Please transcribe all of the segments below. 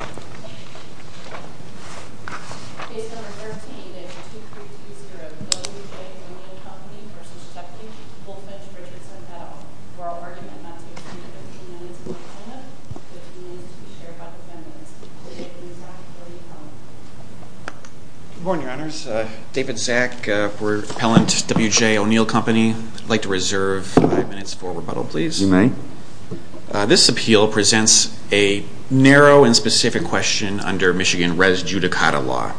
et al. For our argument, that's between 15 minutes and one second. 15 minutes to be shared by the defendants. Good morning, Your Honors. David Zak for Appellant W J ONeil Company. I'd like to reserve 5 minutes for rebuttal, please. You may. This appeal presents a narrow and specific question under Michigan res judicata law.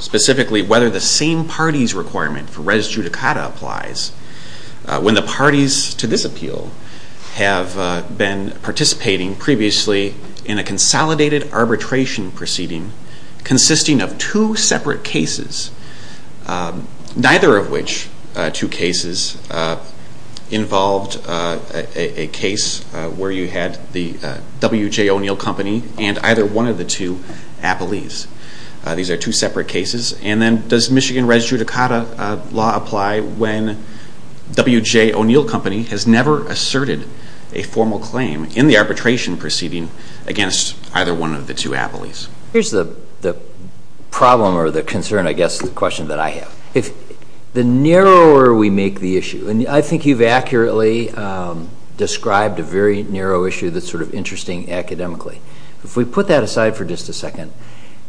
Specifically, whether the same party's requirement for res judicata applies when the parties to this appeal have been participating previously in a case where you had the W J ONeil Company and either one of the two appellees. These are two separate cases. And then, does Michigan res judicata law apply when W J ONeil Company has never asserted a formal claim in the arbitration proceeding against either one of the two appellees? Here's the problem or the concern, I guess, the question that I have. The narrower we make the issue, and I think you've accurately described a very narrow issue that's sort of interesting academically. If we put that aside for just a second,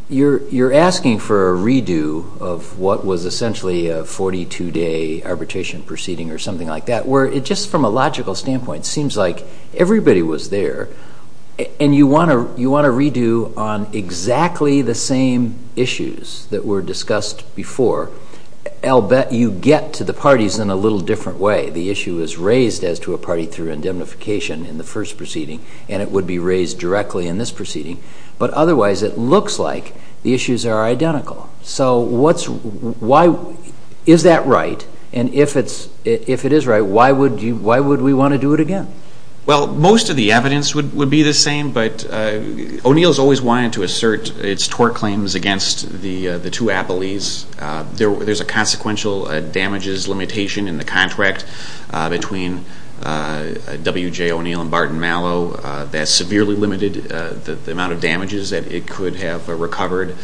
you're asking for a redo of what was essentially a 42-day arbitration proceeding or something like that, where it just, from a logical standpoint, seems like everybody was there. And you want a redo on exactly the same issues that were discussed before. I'll bet you get to the parties in a little different way. The issue is raised as to a party through indemnification in the first proceeding, and it would be raised directly in this proceeding. But otherwise, it looks like the issues are identical. So what's, why, is that right? And if it's, if it is right, why would you, why would we want to do it again? Well, most of the evidence would be the same, but O'Neill's always wanted to assert its tort claims against the two appellees. There's a consequential damages limitation in the contract between W.J. O'Neill and Barton Mallow that severely limited the amount of damages that it could have recovered,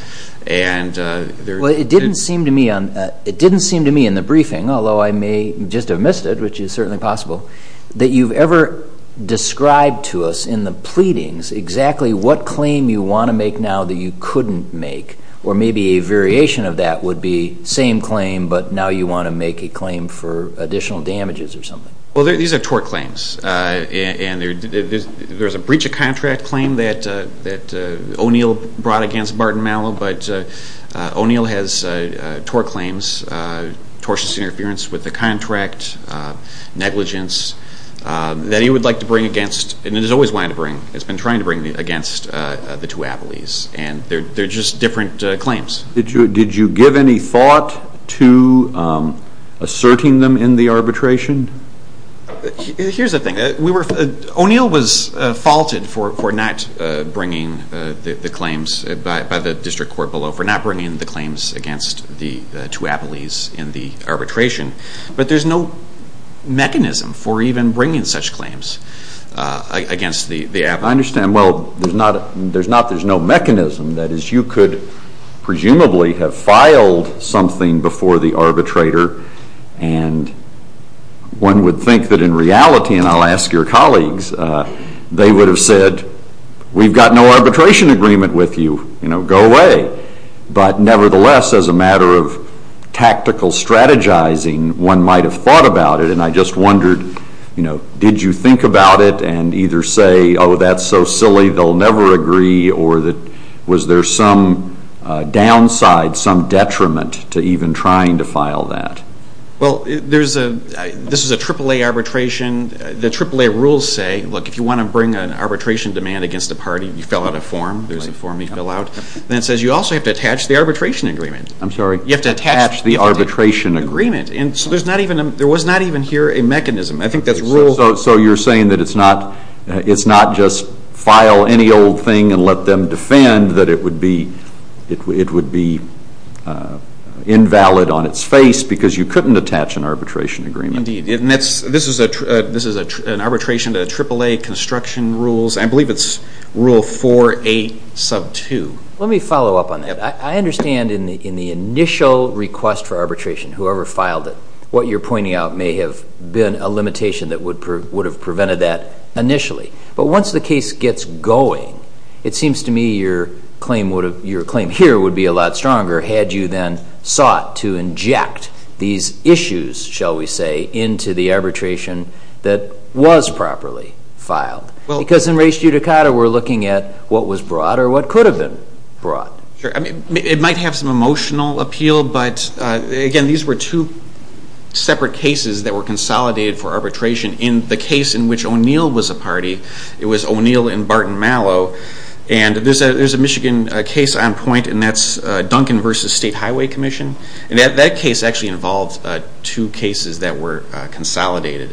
and there... Well, it didn't seem to me on, it didn't seem to me in the briefing, although I may just have missed it, which is certainly possible, that you've ever described to us in the pleadings exactly what claim you want to make now that you couldn't make, or maybe a variation of that would be same claim, but now you want to make a claim for additional damages or something. Well, these are tort claims, and there's a breach of contract claim that O'Neill brought against Barton Mallow, but O'Neill has tort claims, tortious interference with the contract, negligence, that he would like to bring against, and has always wanted to bring, has been trying to bring against the two appellees, and they're just different claims. Did you give any thought to asserting them in the arbitration? Here's the thing. O'Neill was faulted for not bringing the claims by the district court below, for not bringing the claims against the two appellees in the arbitration, but there's no mechanism for even bringing such claims against the appellees. I understand. Well, there's no mechanism. That is, you could presumably have filed something before the arbitrator, and one would think that in reality, and I'll ask your colleagues, they would have said, we've got no arbitration agreement with you. Go away. But nevertheless, as a matter of tactical strategizing, one might have thought about it, and I just wondered, did you think about it and either say, oh, that's so silly, they'll never agree, or was there some downside, some detriment to even trying to file that? Well, this is a AAA arbitration. The AAA rules say, look, if you want to bring an arbitration demand against a party, you fill out a form. There's a form you fill out. And it says you also have to attach the arbitration agreement. I'm sorry? You have to attach the arbitration agreement. And so there was not even here a mechanism. I think that's rule. So you're saying that it's not just file any old thing and let them defend, that it would be invalid on its face because you couldn't attach an arbitration agreement? Indeed. And this is an arbitration to AAA construction rules. I believe it's rule 4A sub 2. Let me follow up on that. I understand in the initial request for arbitration, whoever filed it, what you're pointing out may have been a limitation that would have prevented that initially. But once the case gets going, it seems to me your claim here would be a lot stronger had you then sought to inject these issues, shall we say, into the arbitration that was properly filed. Because in res judicata, we're looking at what was brought or what could have been brought. Sure. It might have some emotional appeal, but again, these were two separate cases that were consolidated for arbitration. In the case in which O'Neill was a party, it was O'Neill and Barton Mallow. And there's a Michigan case on point, and that's Duncan v. State Highway Commission. And that case actually involved two cases that were consolidated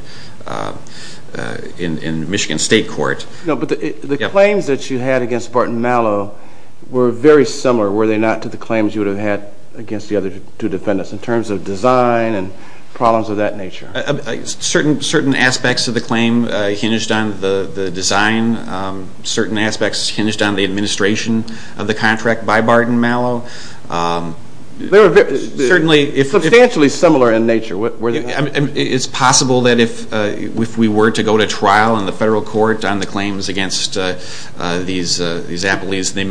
in Michigan State Court. But the claims that you had against Barton Mallow were very similar, were they not, to the claims you would have had against the other two defendants in terms of design and problems of that nature? Certain aspects of the claim hinged on the design. Certain aspects hinged on the administration of the contract by Barton Mallow. They were substantially similar in nature. It's possible that if we were to go to trial in the federal court on the claims against these appellees, they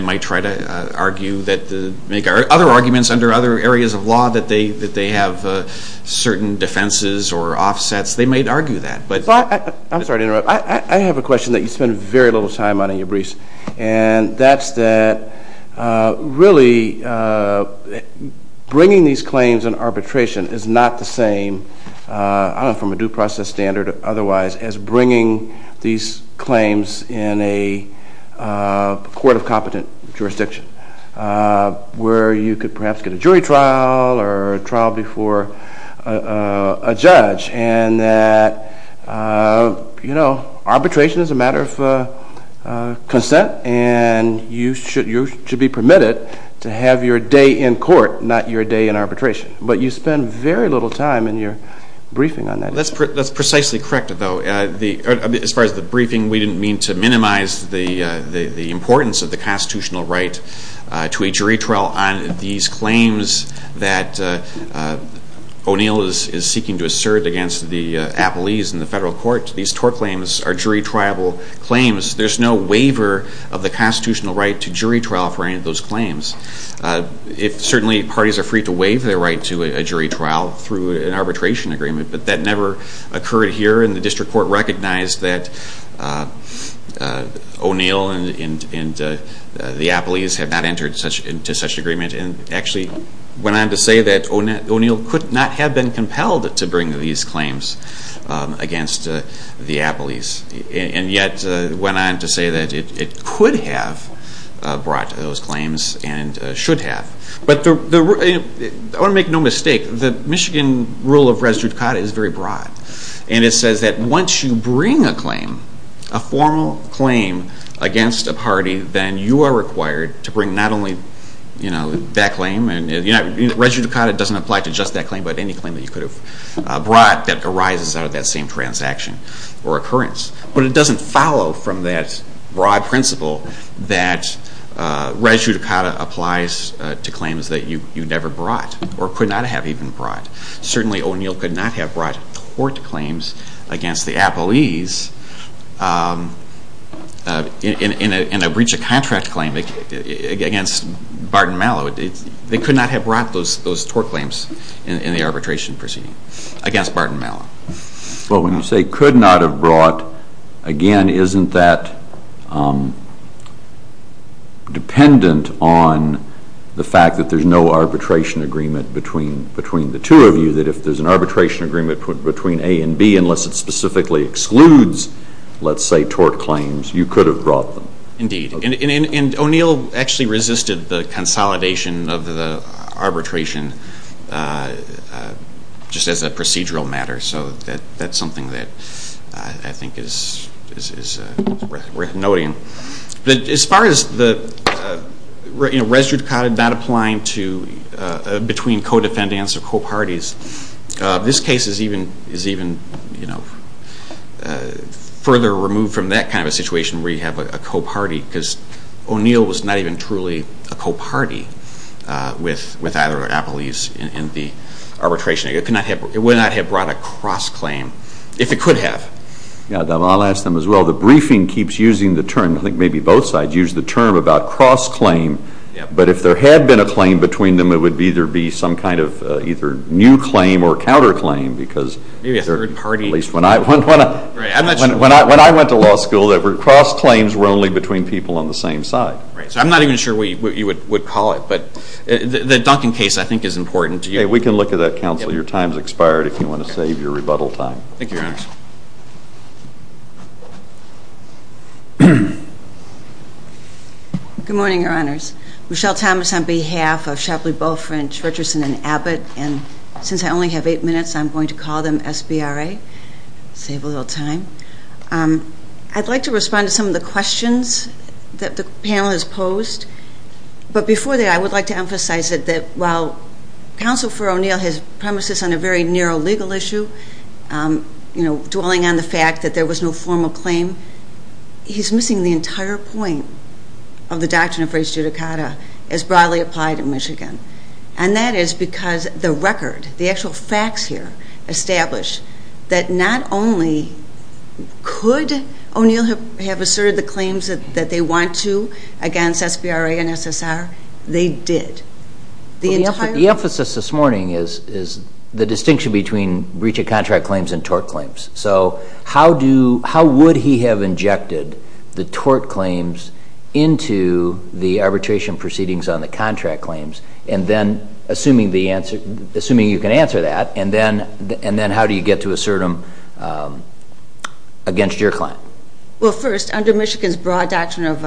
might try to make other arguments under other areas of law that they have certain defenses or offsets. They might argue that. I'm sorry to interrupt. I have a question that you spend very little time on in your briefs. And that's that really bringing these claims in arbitration is not the same, I don't know, from a due process standard or otherwise, as bringing these claims in a court of competent jurisdiction where you could perhaps get a jury trial or a trial before a judge. And that, you know, arbitration is a matter of consent. And you should be permitted to have your day in court, not your day in arbitration. But you spend very little time in your briefing on that. That's precisely correct, though. As far as the briefing, we didn't mean to minimize the importance of the constitutional right to a jury trial on these claims that O'Neill is seeking to assert against the appellees in the federal court. These TOR claims are jury-triable claims. There's no waiver of the constitutional right to jury trial for any of those claims. Certainly, parties are free to waive their right to a jury trial through an arbitration agreement. But that never occurred here. And the district court recognized that O'Neill and the appellees have not entered into such an agreement. And actually went on to say that O'Neill could not have been compelled to bring these claims against the appellees. And yet went on to say that it could have brought those claims and should have. But I want to make no mistake, the Michigan rule of res judicata is very broad. And it says that once you bring a claim, a formal claim against a party, then you are required to bring not only that claim. Res judicata doesn't apply to just that claim, but any claim that you could have brought that arises out of that same transaction or occurrence. But it doesn't follow from that broad principle that res judicata applies to claims that you never brought or could not have even brought. Certainly, O'Neill could not have brought tort claims against the appellees in a breach of contract claim against Barton Mallow. They could not have brought those tort claims in the arbitration proceeding against Barton Mallow. Well, when you say could not have brought, again, isn't that dependent on the fact that there's no arbitration agreement between the two of you, that if there's an arbitration agreement between A and B, unless it specifically excludes, let's say, tort claims, you could have brought them. Indeed. And O'Neill actually resisted the consolidation of the arbitration just as a procedural matter. So that's something that I think is worth noting. As far as the res judicata not applying between co-defendants or co-parties, this case is even further removed from that kind of situation where you have a co-party because O'Neill was not even truly a co-party with either of the appellees in the arbitration. It would not have brought a cross-claim if it could have. I'll ask them as well. The briefing keeps using the term, I think maybe both sides use the term about cross-claim, but if there had been a claim between them, it would either be some kind of either new claim or counter-claim because when I went to law school, cross-claims were only between people on the same side. Right. So I'm not even sure what you would call it, but the Duncan case, I think, is important. We can look at that, counsel. Your time has expired if you want to save your rebuttal time. Thank you, Your Honors. Good morning, Your Honors. Michelle Thomas on behalf of Shapley, Balfrinch, Richardson, and Abbott, and since I only have eight minutes, I'm going to call them SBRA, save a little time. I'd like to respond to some of the questions that the panel has posed, but before that, I would like to emphasize that while counsel for O'Neill has premises on a very narrow legal issue, dwelling on the fact that there was no formal claim, he's missing the entire point of the doctrine of res judicata as broadly applied in Michigan, and that is because the record, the actual facts here establish that not only could O'Neill have asserted the claims that they want to against SBRA and SSR, they did. The entire point of view. The emphasis this morning is the distinction between breach of contract claims and tort claims. So how would he have injected the tort claims into the arbitration proceedings on the contract claims, and then assuming you can answer that, and then how do you get to assert them against your client? Well, first, under Michigan's broad doctrine of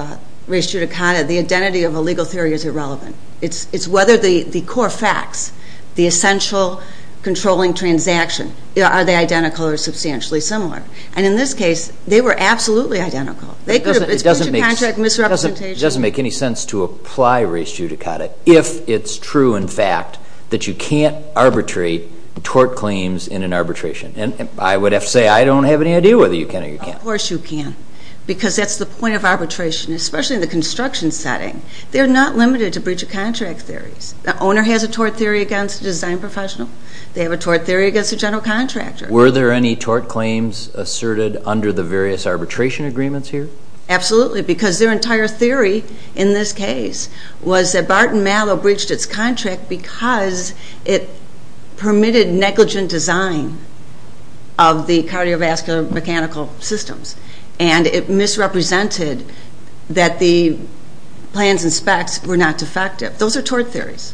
res judicata, the identity of a legal theory is irrelevant. It's whether the core facts, the essential controlling transaction, are they identical or substantially similar, and in this case, they were absolutely identical. It's breach of contract, misrepresentation. It doesn't make any sense to apply res judicata if it's true in fact that you can't arbitrate tort claims in an arbitration, and I would have to say I don't have any idea whether you can or you can't. Of course you can, because that's the point of arbitration, especially in the construction setting. They're not limited to breach of contract theories. The owner has a tort theory against a design professional. They have a tort theory against a general contractor. Were there any tort claims asserted under the various arbitration agreements here? Absolutely, because their entire theory in this case was that Barton Mallow breached its contract because it permitted negligent design of the cardiovascular mechanical systems, and it misrepresented that the plans and specs were not defective. Those are tort theories.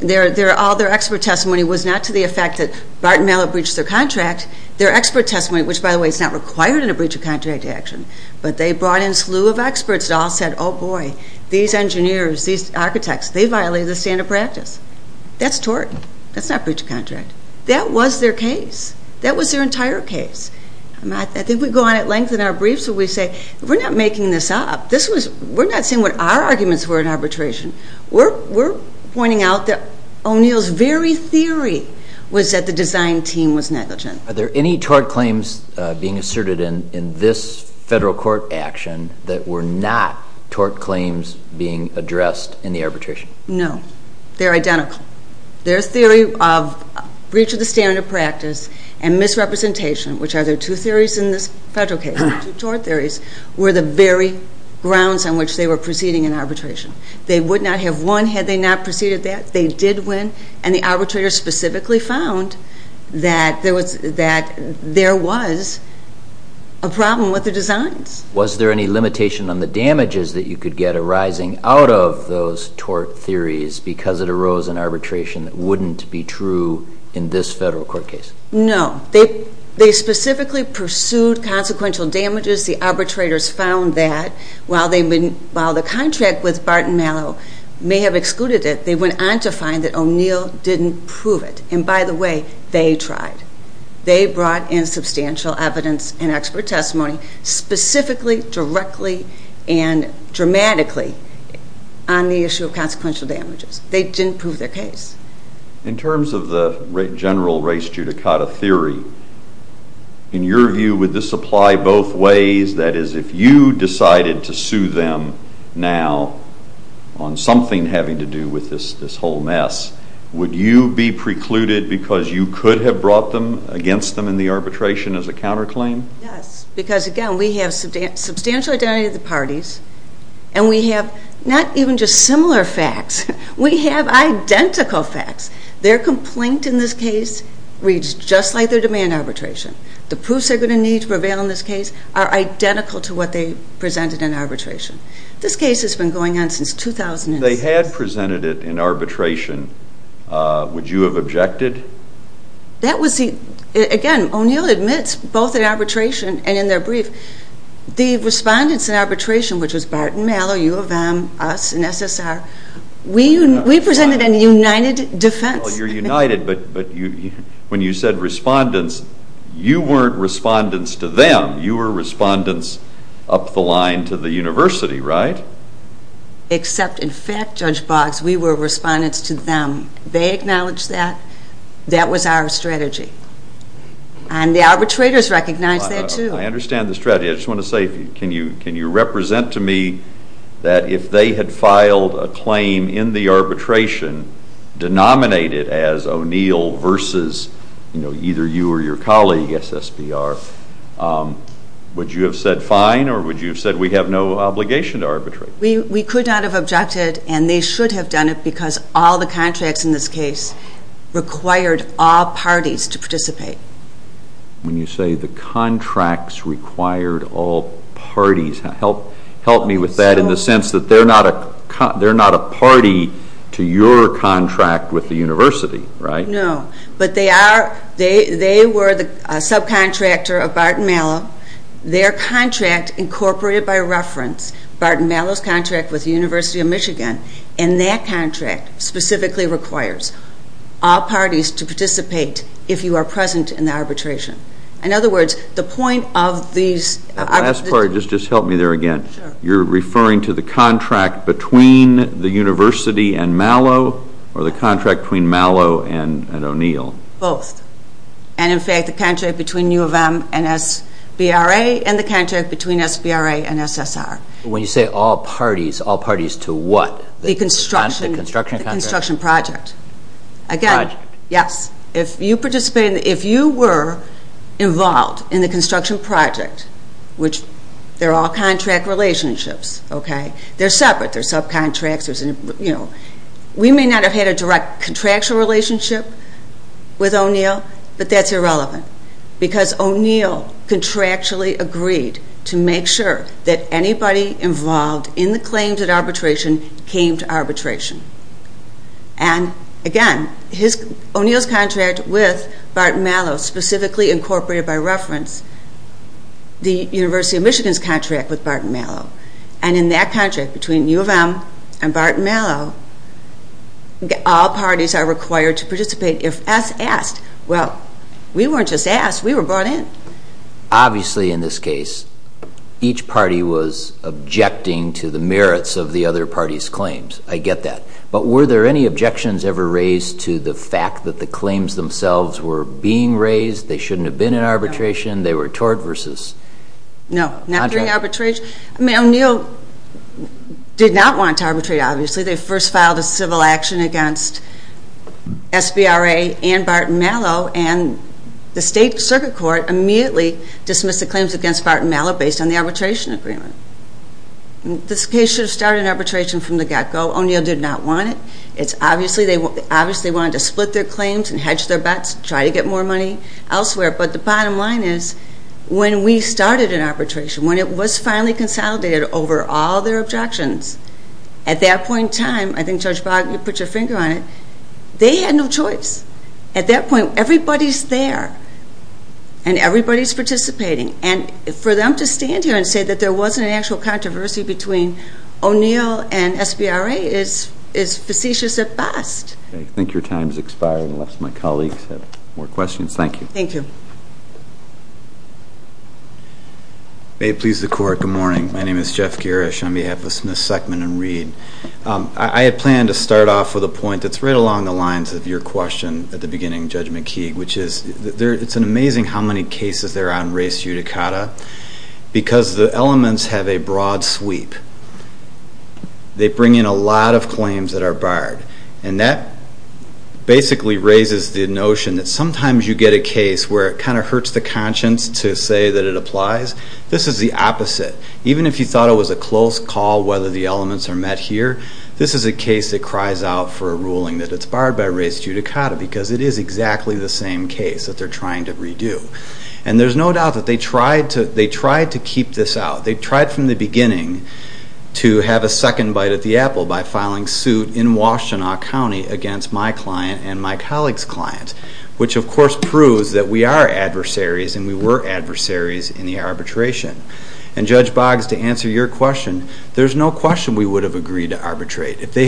All their expert testimony was not to the effect that Barton Mallow breached their contract. Their expert testimony, which, by the way, is not required in a breach of contract action, but they brought in a slew of experts that all said, oh, boy, these engineers, these architects, they violated the standard of practice. That's tort. That's not breach of contract. That was their case. That was their entire case. I think we go on at length in our briefs where we say we're not making this up. We're not saying what our arguments were in arbitration. We're pointing out that O'Neill's very theory was that the design team was negligent. Are there any tort claims being asserted in this federal court action that were not tort claims being addressed in the arbitration? No. They're identical. Their theory of breach of the standard of practice and misrepresentation, which are their two theories in this federal case, their two tort theories, were the very grounds on which they were proceeding in arbitration. They would not have won had they not proceeded that. They did win, and the arbitrators specifically found that there was a problem with the designs. Was there any limitation on the damages that you could get arising out of those tort theories because it arose in arbitration that wouldn't be true in this federal court case? No. They specifically pursued consequential damages. The arbitrators found that while the contract with Barton Mallow may have excluded it, they went on to find that O'Neill didn't prove it. And by the way, they tried. They brought in substantial evidence and expert testimony specifically, directly, and dramatically on the issue of consequential damages. They didn't prove their case. In terms of the general race judicata theory, in your view, would this apply both ways? That is, if you decided to sue them now on something having to do with this whole mess, would you be precluded because you could have brought them against them in the arbitration as a counterclaim? Yes, because, again, we have substantial identity of the parties, and we have not even just similar facts. We have identical facts. Their complaint in this case reads just like their demand arbitration. The proofs they're going to need to prevail in this case are identical to what they presented in arbitration. This case has been going on since 2006. If they had presented it in arbitration, would you have objected? Again, O'Neill admits both in arbitration and in their brief. The respondents in arbitration, which was Barton Mallow, U of M, us, and SSR, we presented a united defense. Well, you're united, but when you said respondents, you weren't respondents to them. You were respondents up the line to the university, right? Except, in fact, Judge Boggs, we were respondents to them. They acknowledged that. That was our strategy. And the arbitrators recognized that, too. I understand the strategy. I just want to say, can you represent to me that if they had filed a claim in the arbitration, denominated as O'Neill versus either you or your colleague, SSBR, would you have said fine, or would you have said we have no obligation to arbitrate? We could not have objected, and they should have done it, because all the contracts in this case required all parties to participate. When you say the contracts required all parties, help me with that in the sense that they're not a party to your contract with the university, right? No, but they were the subcontractor of Barton Mallow. Their contract, incorporated by reference, Barton Mallow's contract with the University of Michigan, and that contract specifically requires all parties to participate if you are present in the arbitration. In other words, the point of these... Last part, just help me there again. You're referring to the contract between the university and Mallow, or the contract between Mallow and O'Neill? Both. And, in fact, the contract between U of M and SBRA, and the contract between SBRA and SSR. When you say all parties, all parties to what? The construction project. Project. Yes. If you were involved in the construction project, which they're all contract relationships, okay? They're separate. They're subcontractors. We may not have had a direct contractual relationship with O'Neill, but that's irrelevant, because O'Neill contractually agreed to make sure that anybody involved in the claims at arbitration came to arbitration. And, again, O'Neill's contract with Barton Mallow, specifically incorporated by reference, the University of Michigan's contract with Barton Mallow, and in that contract between U of M and Barton Mallow, all parties are required to participate if asked. Well, we weren't just asked. We were brought in. Obviously, in this case, each party was objecting to the merits of the other party's claims. I get that. But were there any objections ever raised to the fact that the claims themselves were being raised, they shouldn't have been in arbitration, they were tort versus contract? No, not during arbitration. I mean, O'Neill did not want to arbitrate, obviously. They first filed a civil action against SBRA and Barton Mallow, and the state circuit court immediately dismissed the claims against Barton Mallow based on the arbitration agreement. This case should have started in arbitration from the get-go. O'Neill did not want it. Obviously, they wanted to split their claims and hedge their bets, try to get more money elsewhere. But the bottom line is when we started in arbitration, when it was finally consolidated over all their objections, at that point in time, I think Judge Bogg, you put your finger on it, they had no choice. At that point, everybody's there and everybody's participating. And for them to stand here and say that there wasn't an actual controversy between O'Neill and SBRA is facetious at best. I think your time has expired unless my colleagues have more questions. Thank you. May it please the Court, good morning. My name is Jeff Girish on behalf of Smith, Seckman & Reid. I had planned to start off with a point that's right along the lines of your question at the beginning, Judge McKeague, which is it's amazing how many cases there are on res judicata because the elements have a broad sweep. They bring in a lot of claims that are barred, and that basically raises the notion that sometimes you get a case where it kind of hurts the conscience to say that it applies. This is the opposite. Even if you thought it was a close call whether the elements are met here, this is a case that cries out for a ruling that it's barred by res judicata because it is exactly the same case that they're trying to redo. And there's no doubt that they tried to keep this out. They tried from the beginning to have a second bite at the apple by filing suit in Washtenaw County against my client and my colleague's client, which, of course, proves that we are adversaries and we were adversaries in the arbitration. And, Judge Boggs, to answer your question, there's no question we would have agreed to arbitrate. If they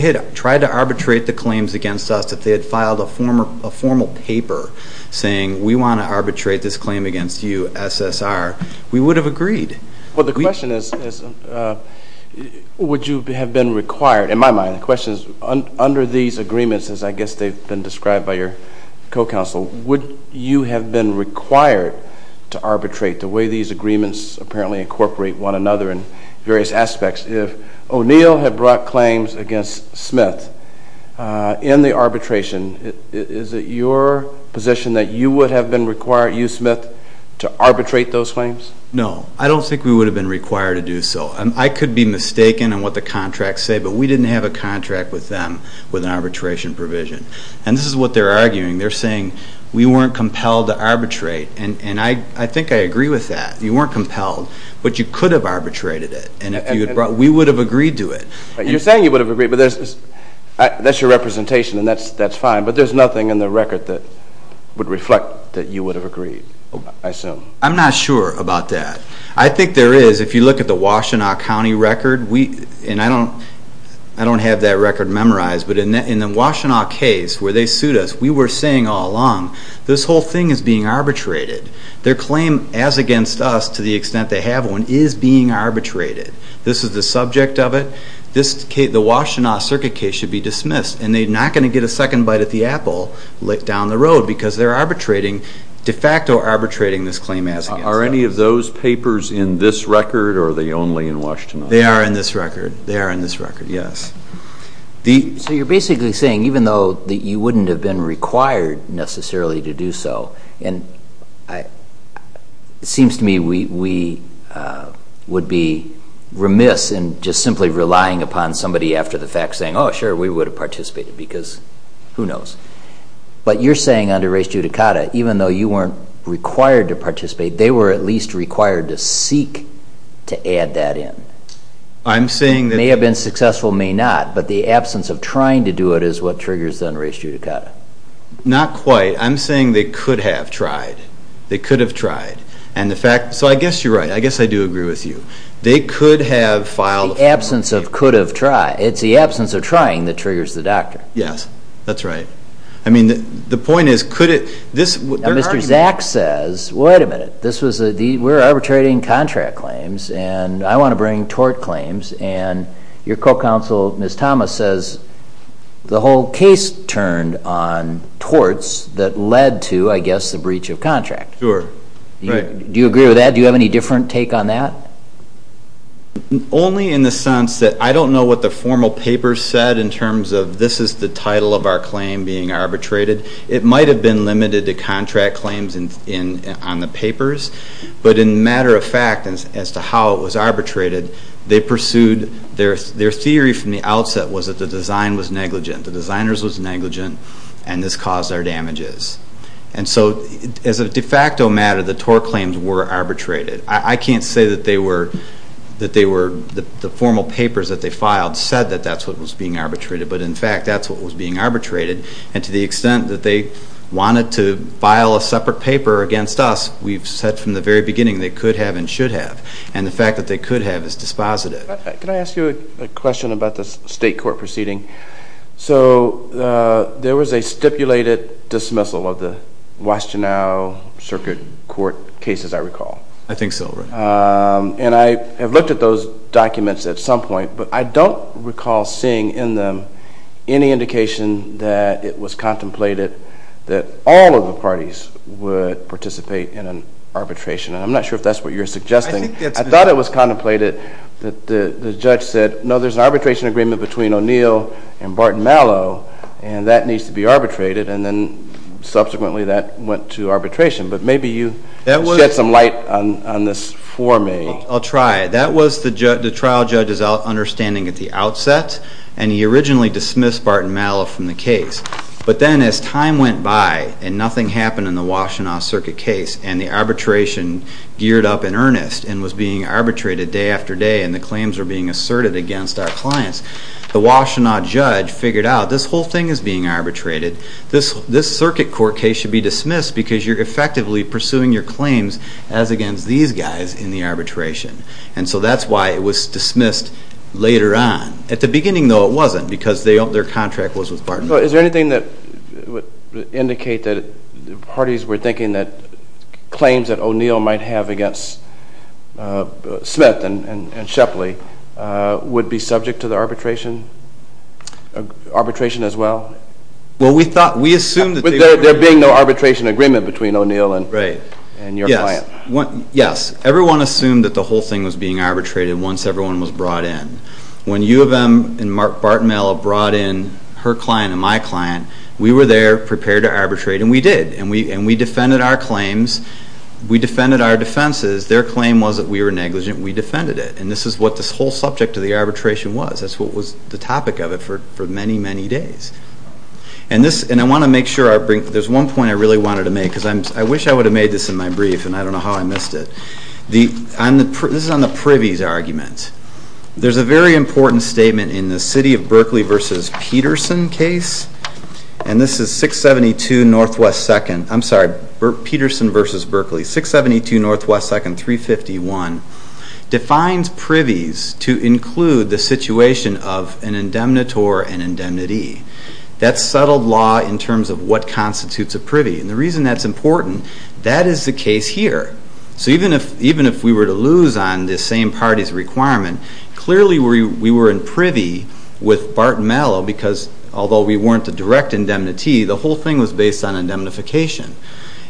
had tried to arbitrate the claims against us, if they had filed a formal paper saying we want to arbitrate this claim against you, SSR, we would have agreed. Well, the question is would you have been required? In my mind, the question is under these agreements, as I guess they've been described by your co-counsel, would you have been required to arbitrate the way these agreements apparently incorporate one another in various aspects? If O'Neill had brought claims against Smith in the arbitration, is it your position that you would have been required, you, Smith, to arbitrate those claims? No. I don't think we would have been required to do so. I could be mistaken in what the contracts say, but we didn't have a contract with them with an arbitration provision. And this is what they're arguing. They're saying we weren't compelled to arbitrate, and I think I agree with that. You weren't compelled, but you could have arbitrated it, and we would have agreed to it. You're saying you would have agreed, but that's your representation, and that's fine, but there's nothing in the record that would reflect that you would have agreed, I assume. I'm not sure about that. I think there is. If you look at the Washtenaw County record, and I don't have that record memorized, but in the Washtenaw case where they sued us, we were saying all along this whole thing is being arbitrated. Their claim as against us, to the extent they have one, is being arbitrated. This is the subject of it. The Washtenaw Circuit case should be dismissed, and they're not going to get a second bite at the apple down the road because they're de facto arbitrating this claim as against us. Are any of those papers in this record, or are they only in Washtenaw? They are in this record. They are in this record, yes. So you're basically saying even though you wouldn't have been required necessarily to do so, and it seems to me we would be remiss in just simply relying upon somebody after the fact saying, oh, sure, we would have participated because who knows. But you're saying under race judicata, even though you weren't required to participate, they were at least required to seek to add that in. I'm saying that... May have been successful, may not, but the absence of trying to do it is what triggers the under race judicata. Not quite. I'm saying they could have tried. They could have tried. And the fact, so I guess you're right. I guess I do agree with you. They could have filed... The absence of could have tried. It's the absence of trying that triggers the doctor. Yes, that's right. I mean, the point is could it, this... Zach says, wait a minute, we're arbitrating contract claims, and I want to bring tort claims, and your co-counsel, Ms. Thomas, says the whole case turned on torts that led to, I guess, the breach of contract. Sure. Do you agree with that? Do you have any different take on that? Only in the sense that I don't know what the formal paper said in terms of this is the title of our claim being arbitrated. It might have been limited to contract claims on the papers, but in matter of fact as to how it was arbitrated, they pursued their theory from the outset was that the design was negligent, the designers was negligent, and this caused our damages. And so as a de facto matter, the tort claims were arbitrated. I can't say that they were, the formal papers that they filed said that that's what was being arbitrated, but in fact that's what was being arbitrated. And to the extent that they wanted to file a separate paper against us, we've said from the very beginning they could have and should have, and the fact that they could have is dispositive. Can I ask you a question about the state court proceeding? So there was a stipulated dismissal of the Washtenaw Circuit Court cases, I recall. I think so, right. And I have looked at those documents at some point, but I don't recall seeing in them any indication that it was contemplated that all of the parties would participate in an arbitration, and I'm not sure if that's what you're suggesting. I thought it was contemplated that the judge said, no, there's an arbitration agreement between O'Neill and Barton Mallow, and that needs to be arbitrated, and then subsequently that went to arbitration. But maybe you shed some light on this for me. I'll try. That was the trial judge's understanding at the outset, and he originally dismissed Barton Mallow from the case. But then as time went by and nothing happened in the Washtenaw Circuit case and the arbitration geared up in earnest and was being arbitrated day after day and the claims were being asserted against our clients, the Washtenaw judge figured out this whole thing is being arbitrated. This Circuit Court case should be dismissed because you're effectively pursuing your claims as against these guys in the arbitration. And so that's why it was dismissed later on. At the beginning, though, it wasn't because their contract was with Barton Mallow. Is there anything that would indicate that parties were thinking that claims that O'Neill might have against Smith and Shepley would be subject to the arbitration as well? There being no arbitration agreement between O'Neill and your client? Yes. Everyone assumed that the whole thing was being arbitrated once everyone was brought in. When U of M and Barton Mallow brought in her client and my client, we were there prepared to arbitrate, and we did. And we defended our claims. We defended our defenses. Their claim was that we were negligent. We defended it. And this is what this whole subject of the arbitration was. That's what was the topic of it for many, many days. And I want to make sure there's one point I really wanted to make, because I wish I would have made this in my brief, and I don't know how I missed it. This is on the Privy's argument. There's a very important statement in the City of Berkeley v. Peterson case, and this is 672 Northwest 2nd. I'm sorry, Peterson v. Berkeley. 672 Northwest 2nd, 351, defines privies to include the situation of an indemnitor and indemnity. That's settled law in terms of what constitutes a privy. And the reason that's important, that is the case here. So even if we were to lose on this same party's requirement, clearly we were in privy with Barton Mallow, because although we weren't a direct indemnity, the whole thing was based on indemnification.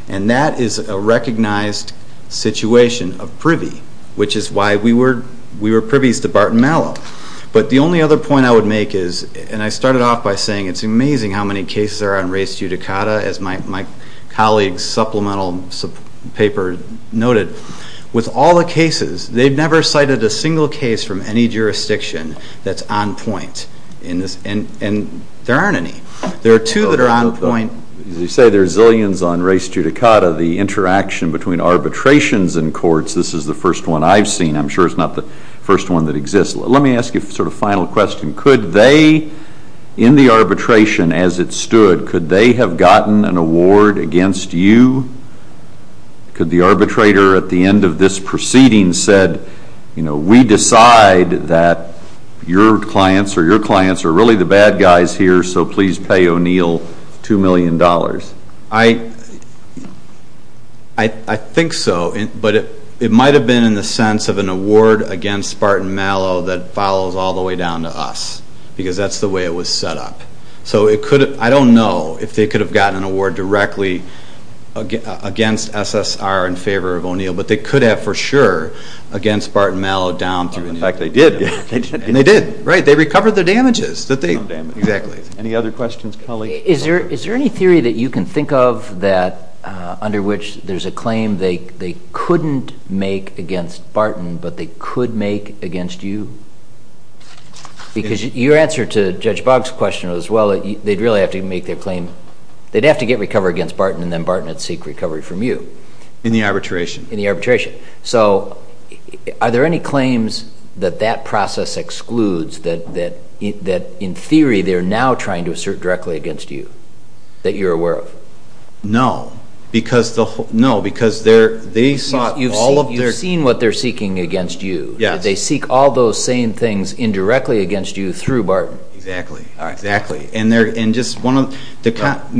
And that is a recognized situation of privy, which is why we were privies to Barton Mallow. But the only other point I would make is, and I started off by saying it's amazing how many cases are on race judicata, as my colleague's supplemental paper noted. With all the cases, they've never cited a single case from any jurisdiction that's on point. And there aren't any. There are two that are on point. As you say, there are zillions on race judicata. The interaction between arbitrations and courts, this is the first one I've seen. I'm sure it's not the first one that exists. Let me ask you a sort of final question. Could they, in the arbitration as it stood, could they have gotten an award against you? Could the arbitrator at the end of this proceeding have said, we decide that your clients or your clients are really the bad guys here, so please pay O'Neill $2 million? I think so. But it might have been in the sense of an award against Barton Mallow that follows all the way down to us. Because that's the way it was set up. So I don't know if they could have gotten an award directly against SSR in favor of O'Neill. But they could have for sure against Barton Mallow down through. In fact, they did. And they did. Right. They recovered their damages. Exactly. Any other questions, colleagues? Is there any theory that you can think of that under which there's a claim they couldn't make against Barton, but they could make against you? Because your answer to Judge Boggs' question was, well, they'd really have to make their claim. They'd have to get recovery against Barton, and then Barton would seek recovery from you. In the arbitration. In the arbitration. So are there any claims that that process excludes that, in theory, they're now trying to assert directly against you that you're aware of? No, because they sought all of their ---- You've seen what they're seeking against you. Yes. They seek all those same things indirectly against you through Barton. Exactly. All right. Exactly. And just one of the ----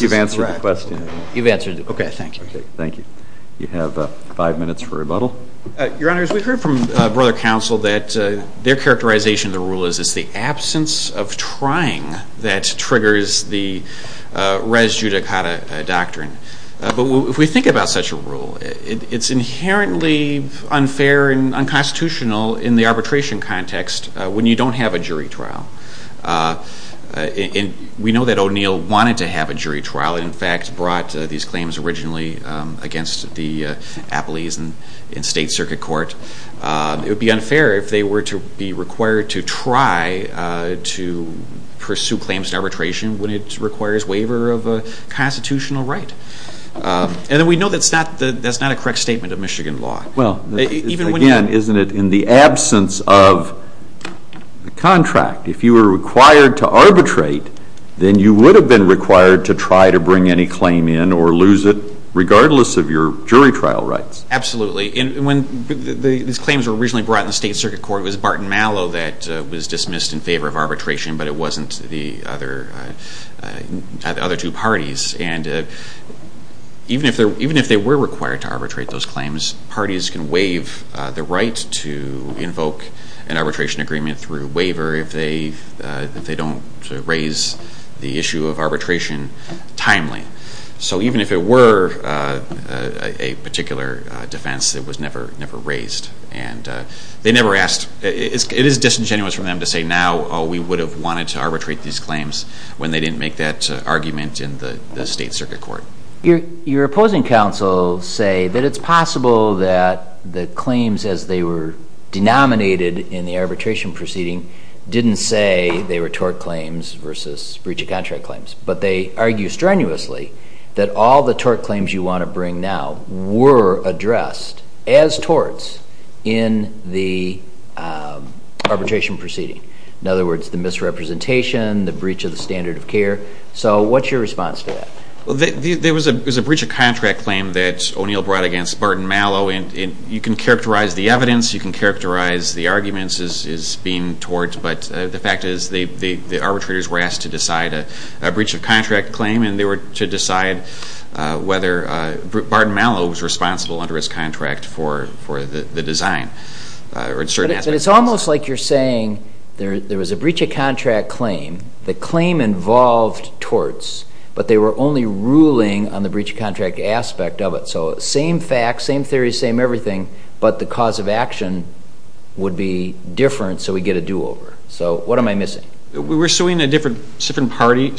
You've answered the question. You've answered the question. Okay, thank you. Okay, thank you. You have five minutes for rebuttal. Your Honors, we've heard from Brother Counsel that their characterization of the rule is it's the absence of trying that triggers the res judicata doctrine. But if we think about such a rule, it's inherently unfair and unconstitutional in the arbitration context when you don't have a jury trial. We know that O'Neill wanted to have a jury trial and, in fact, brought these claims originally against the Appellees in State Circuit Court. It would be unfair if they were to be required to try to pursue claims in arbitration when it requires waiver of a constitutional right. And we know that's not a correct statement of Michigan law. Well, again, isn't it in the absence of a contract? If you were required to arbitrate, then you would have been required to try to bring any claim in or lose it regardless of your jury trial rights. Absolutely. And when these claims were originally brought in the State Circuit Court, it was Barton Mallow that was dismissed in favor of arbitration, but it wasn't the other two parties. Even if they were required to arbitrate those claims, parties can waive the right to invoke an arbitration agreement through waiver if they don't raise the issue of arbitration timely. So even if it were a particular defense, it was never raised. It is disingenuous for them to say now, oh, we would have wanted to arbitrate these claims when they didn't make that argument in the State Circuit Court. Your opposing counsels say that it's possible that the claims as they were denominated in the arbitration proceeding didn't say they were tort claims versus breach of contract claims, but they argue strenuously that all the tort claims you want to bring now were addressed as torts in the arbitration proceeding. In other words, the misrepresentation, the breach of the standard of care. So what's your response to that? There was a breach of contract claim that O'Neill brought against Barton Mallow, and you can characterize the evidence, you can characterize the arguments as being torts, but the fact is the arbitrators were asked to decide a breach of contract claim, and they were to decide whether Barton Mallow was responsible under his contract for the design. But it's almost like you're saying there was a breach of contract claim. The claim involved torts, but they were only ruling on the breach of contract aspect of it. So same facts, same theories, same everything, but the cause of action would be different so we get a do-over. So what am I missing? We're suing a different party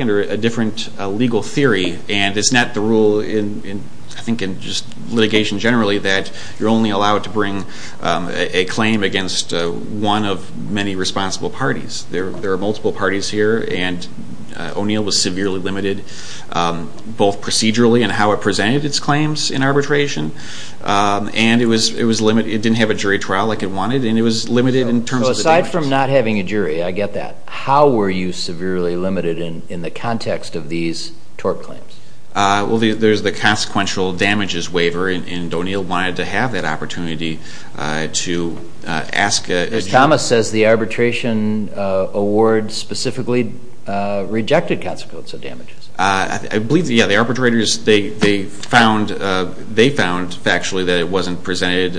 under a different legal theory, and it's not the rule, I think in just litigation generally, that you're only allowed to bring a claim against one of many responsible parties. There are multiple parties here, and O'Neill was severely limited both procedurally and how it presented its claims in arbitration, and it didn't have a jury trial like it wanted, Apart from not having a jury, I get that. How were you severely limited in the context of these tort claims? Well, there's the consequential damages waiver, and O'Neill wanted to have that opportunity to ask a jury. Thomas says the arbitration award specifically rejected consequential damages. I believe, yeah, the arbitrators, they found factually that it wasn't presented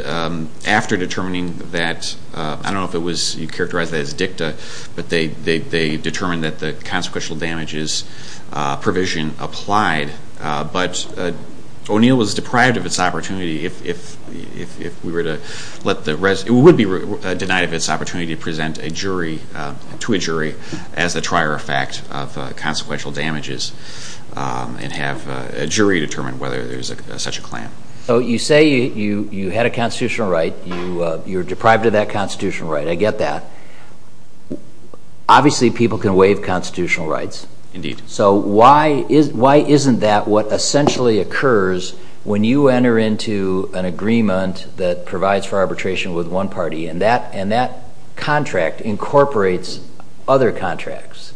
after determining that, and I don't know if you characterize that as dicta, but they determined that the consequential damages provision applied, but O'Neill was deprived of its opportunity if we were to let the rest, it would be denied of its opportunity to present a jury, to a jury, as the trier of fact of consequential damages and have a jury determine whether there's such a claim. So you say you had a constitutional right. You were deprived of that constitutional right. I get that. Obviously, people can waive constitutional rights. Indeed. So why isn't that what essentially occurs when you enter into an agreement that provides for arbitration with one party, and that contract incorporates other contracts?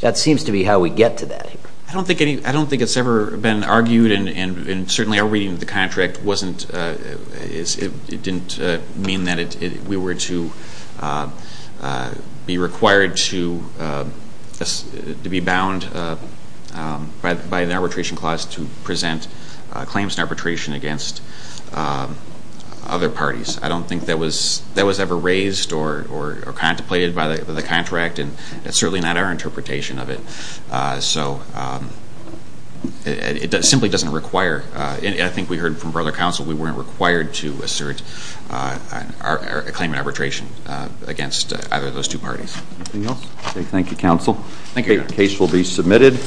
That seems to be how we get to that. I don't think it's ever been argued, and certainly our reading of the contract wasn't, it didn't mean that we were to be required to be bound by an arbitration clause to present claims in arbitration against other parties. I don't think that was ever raised or contemplated by the contract, and it's certainly not our interpretation of it. So it simply doesn't require, and I think we heard from other counsel, we weren't required to assert a claim in arbitration against either of those two parties. Anything else? Okay, thank you, counsel. Thank you. The case will be submitted.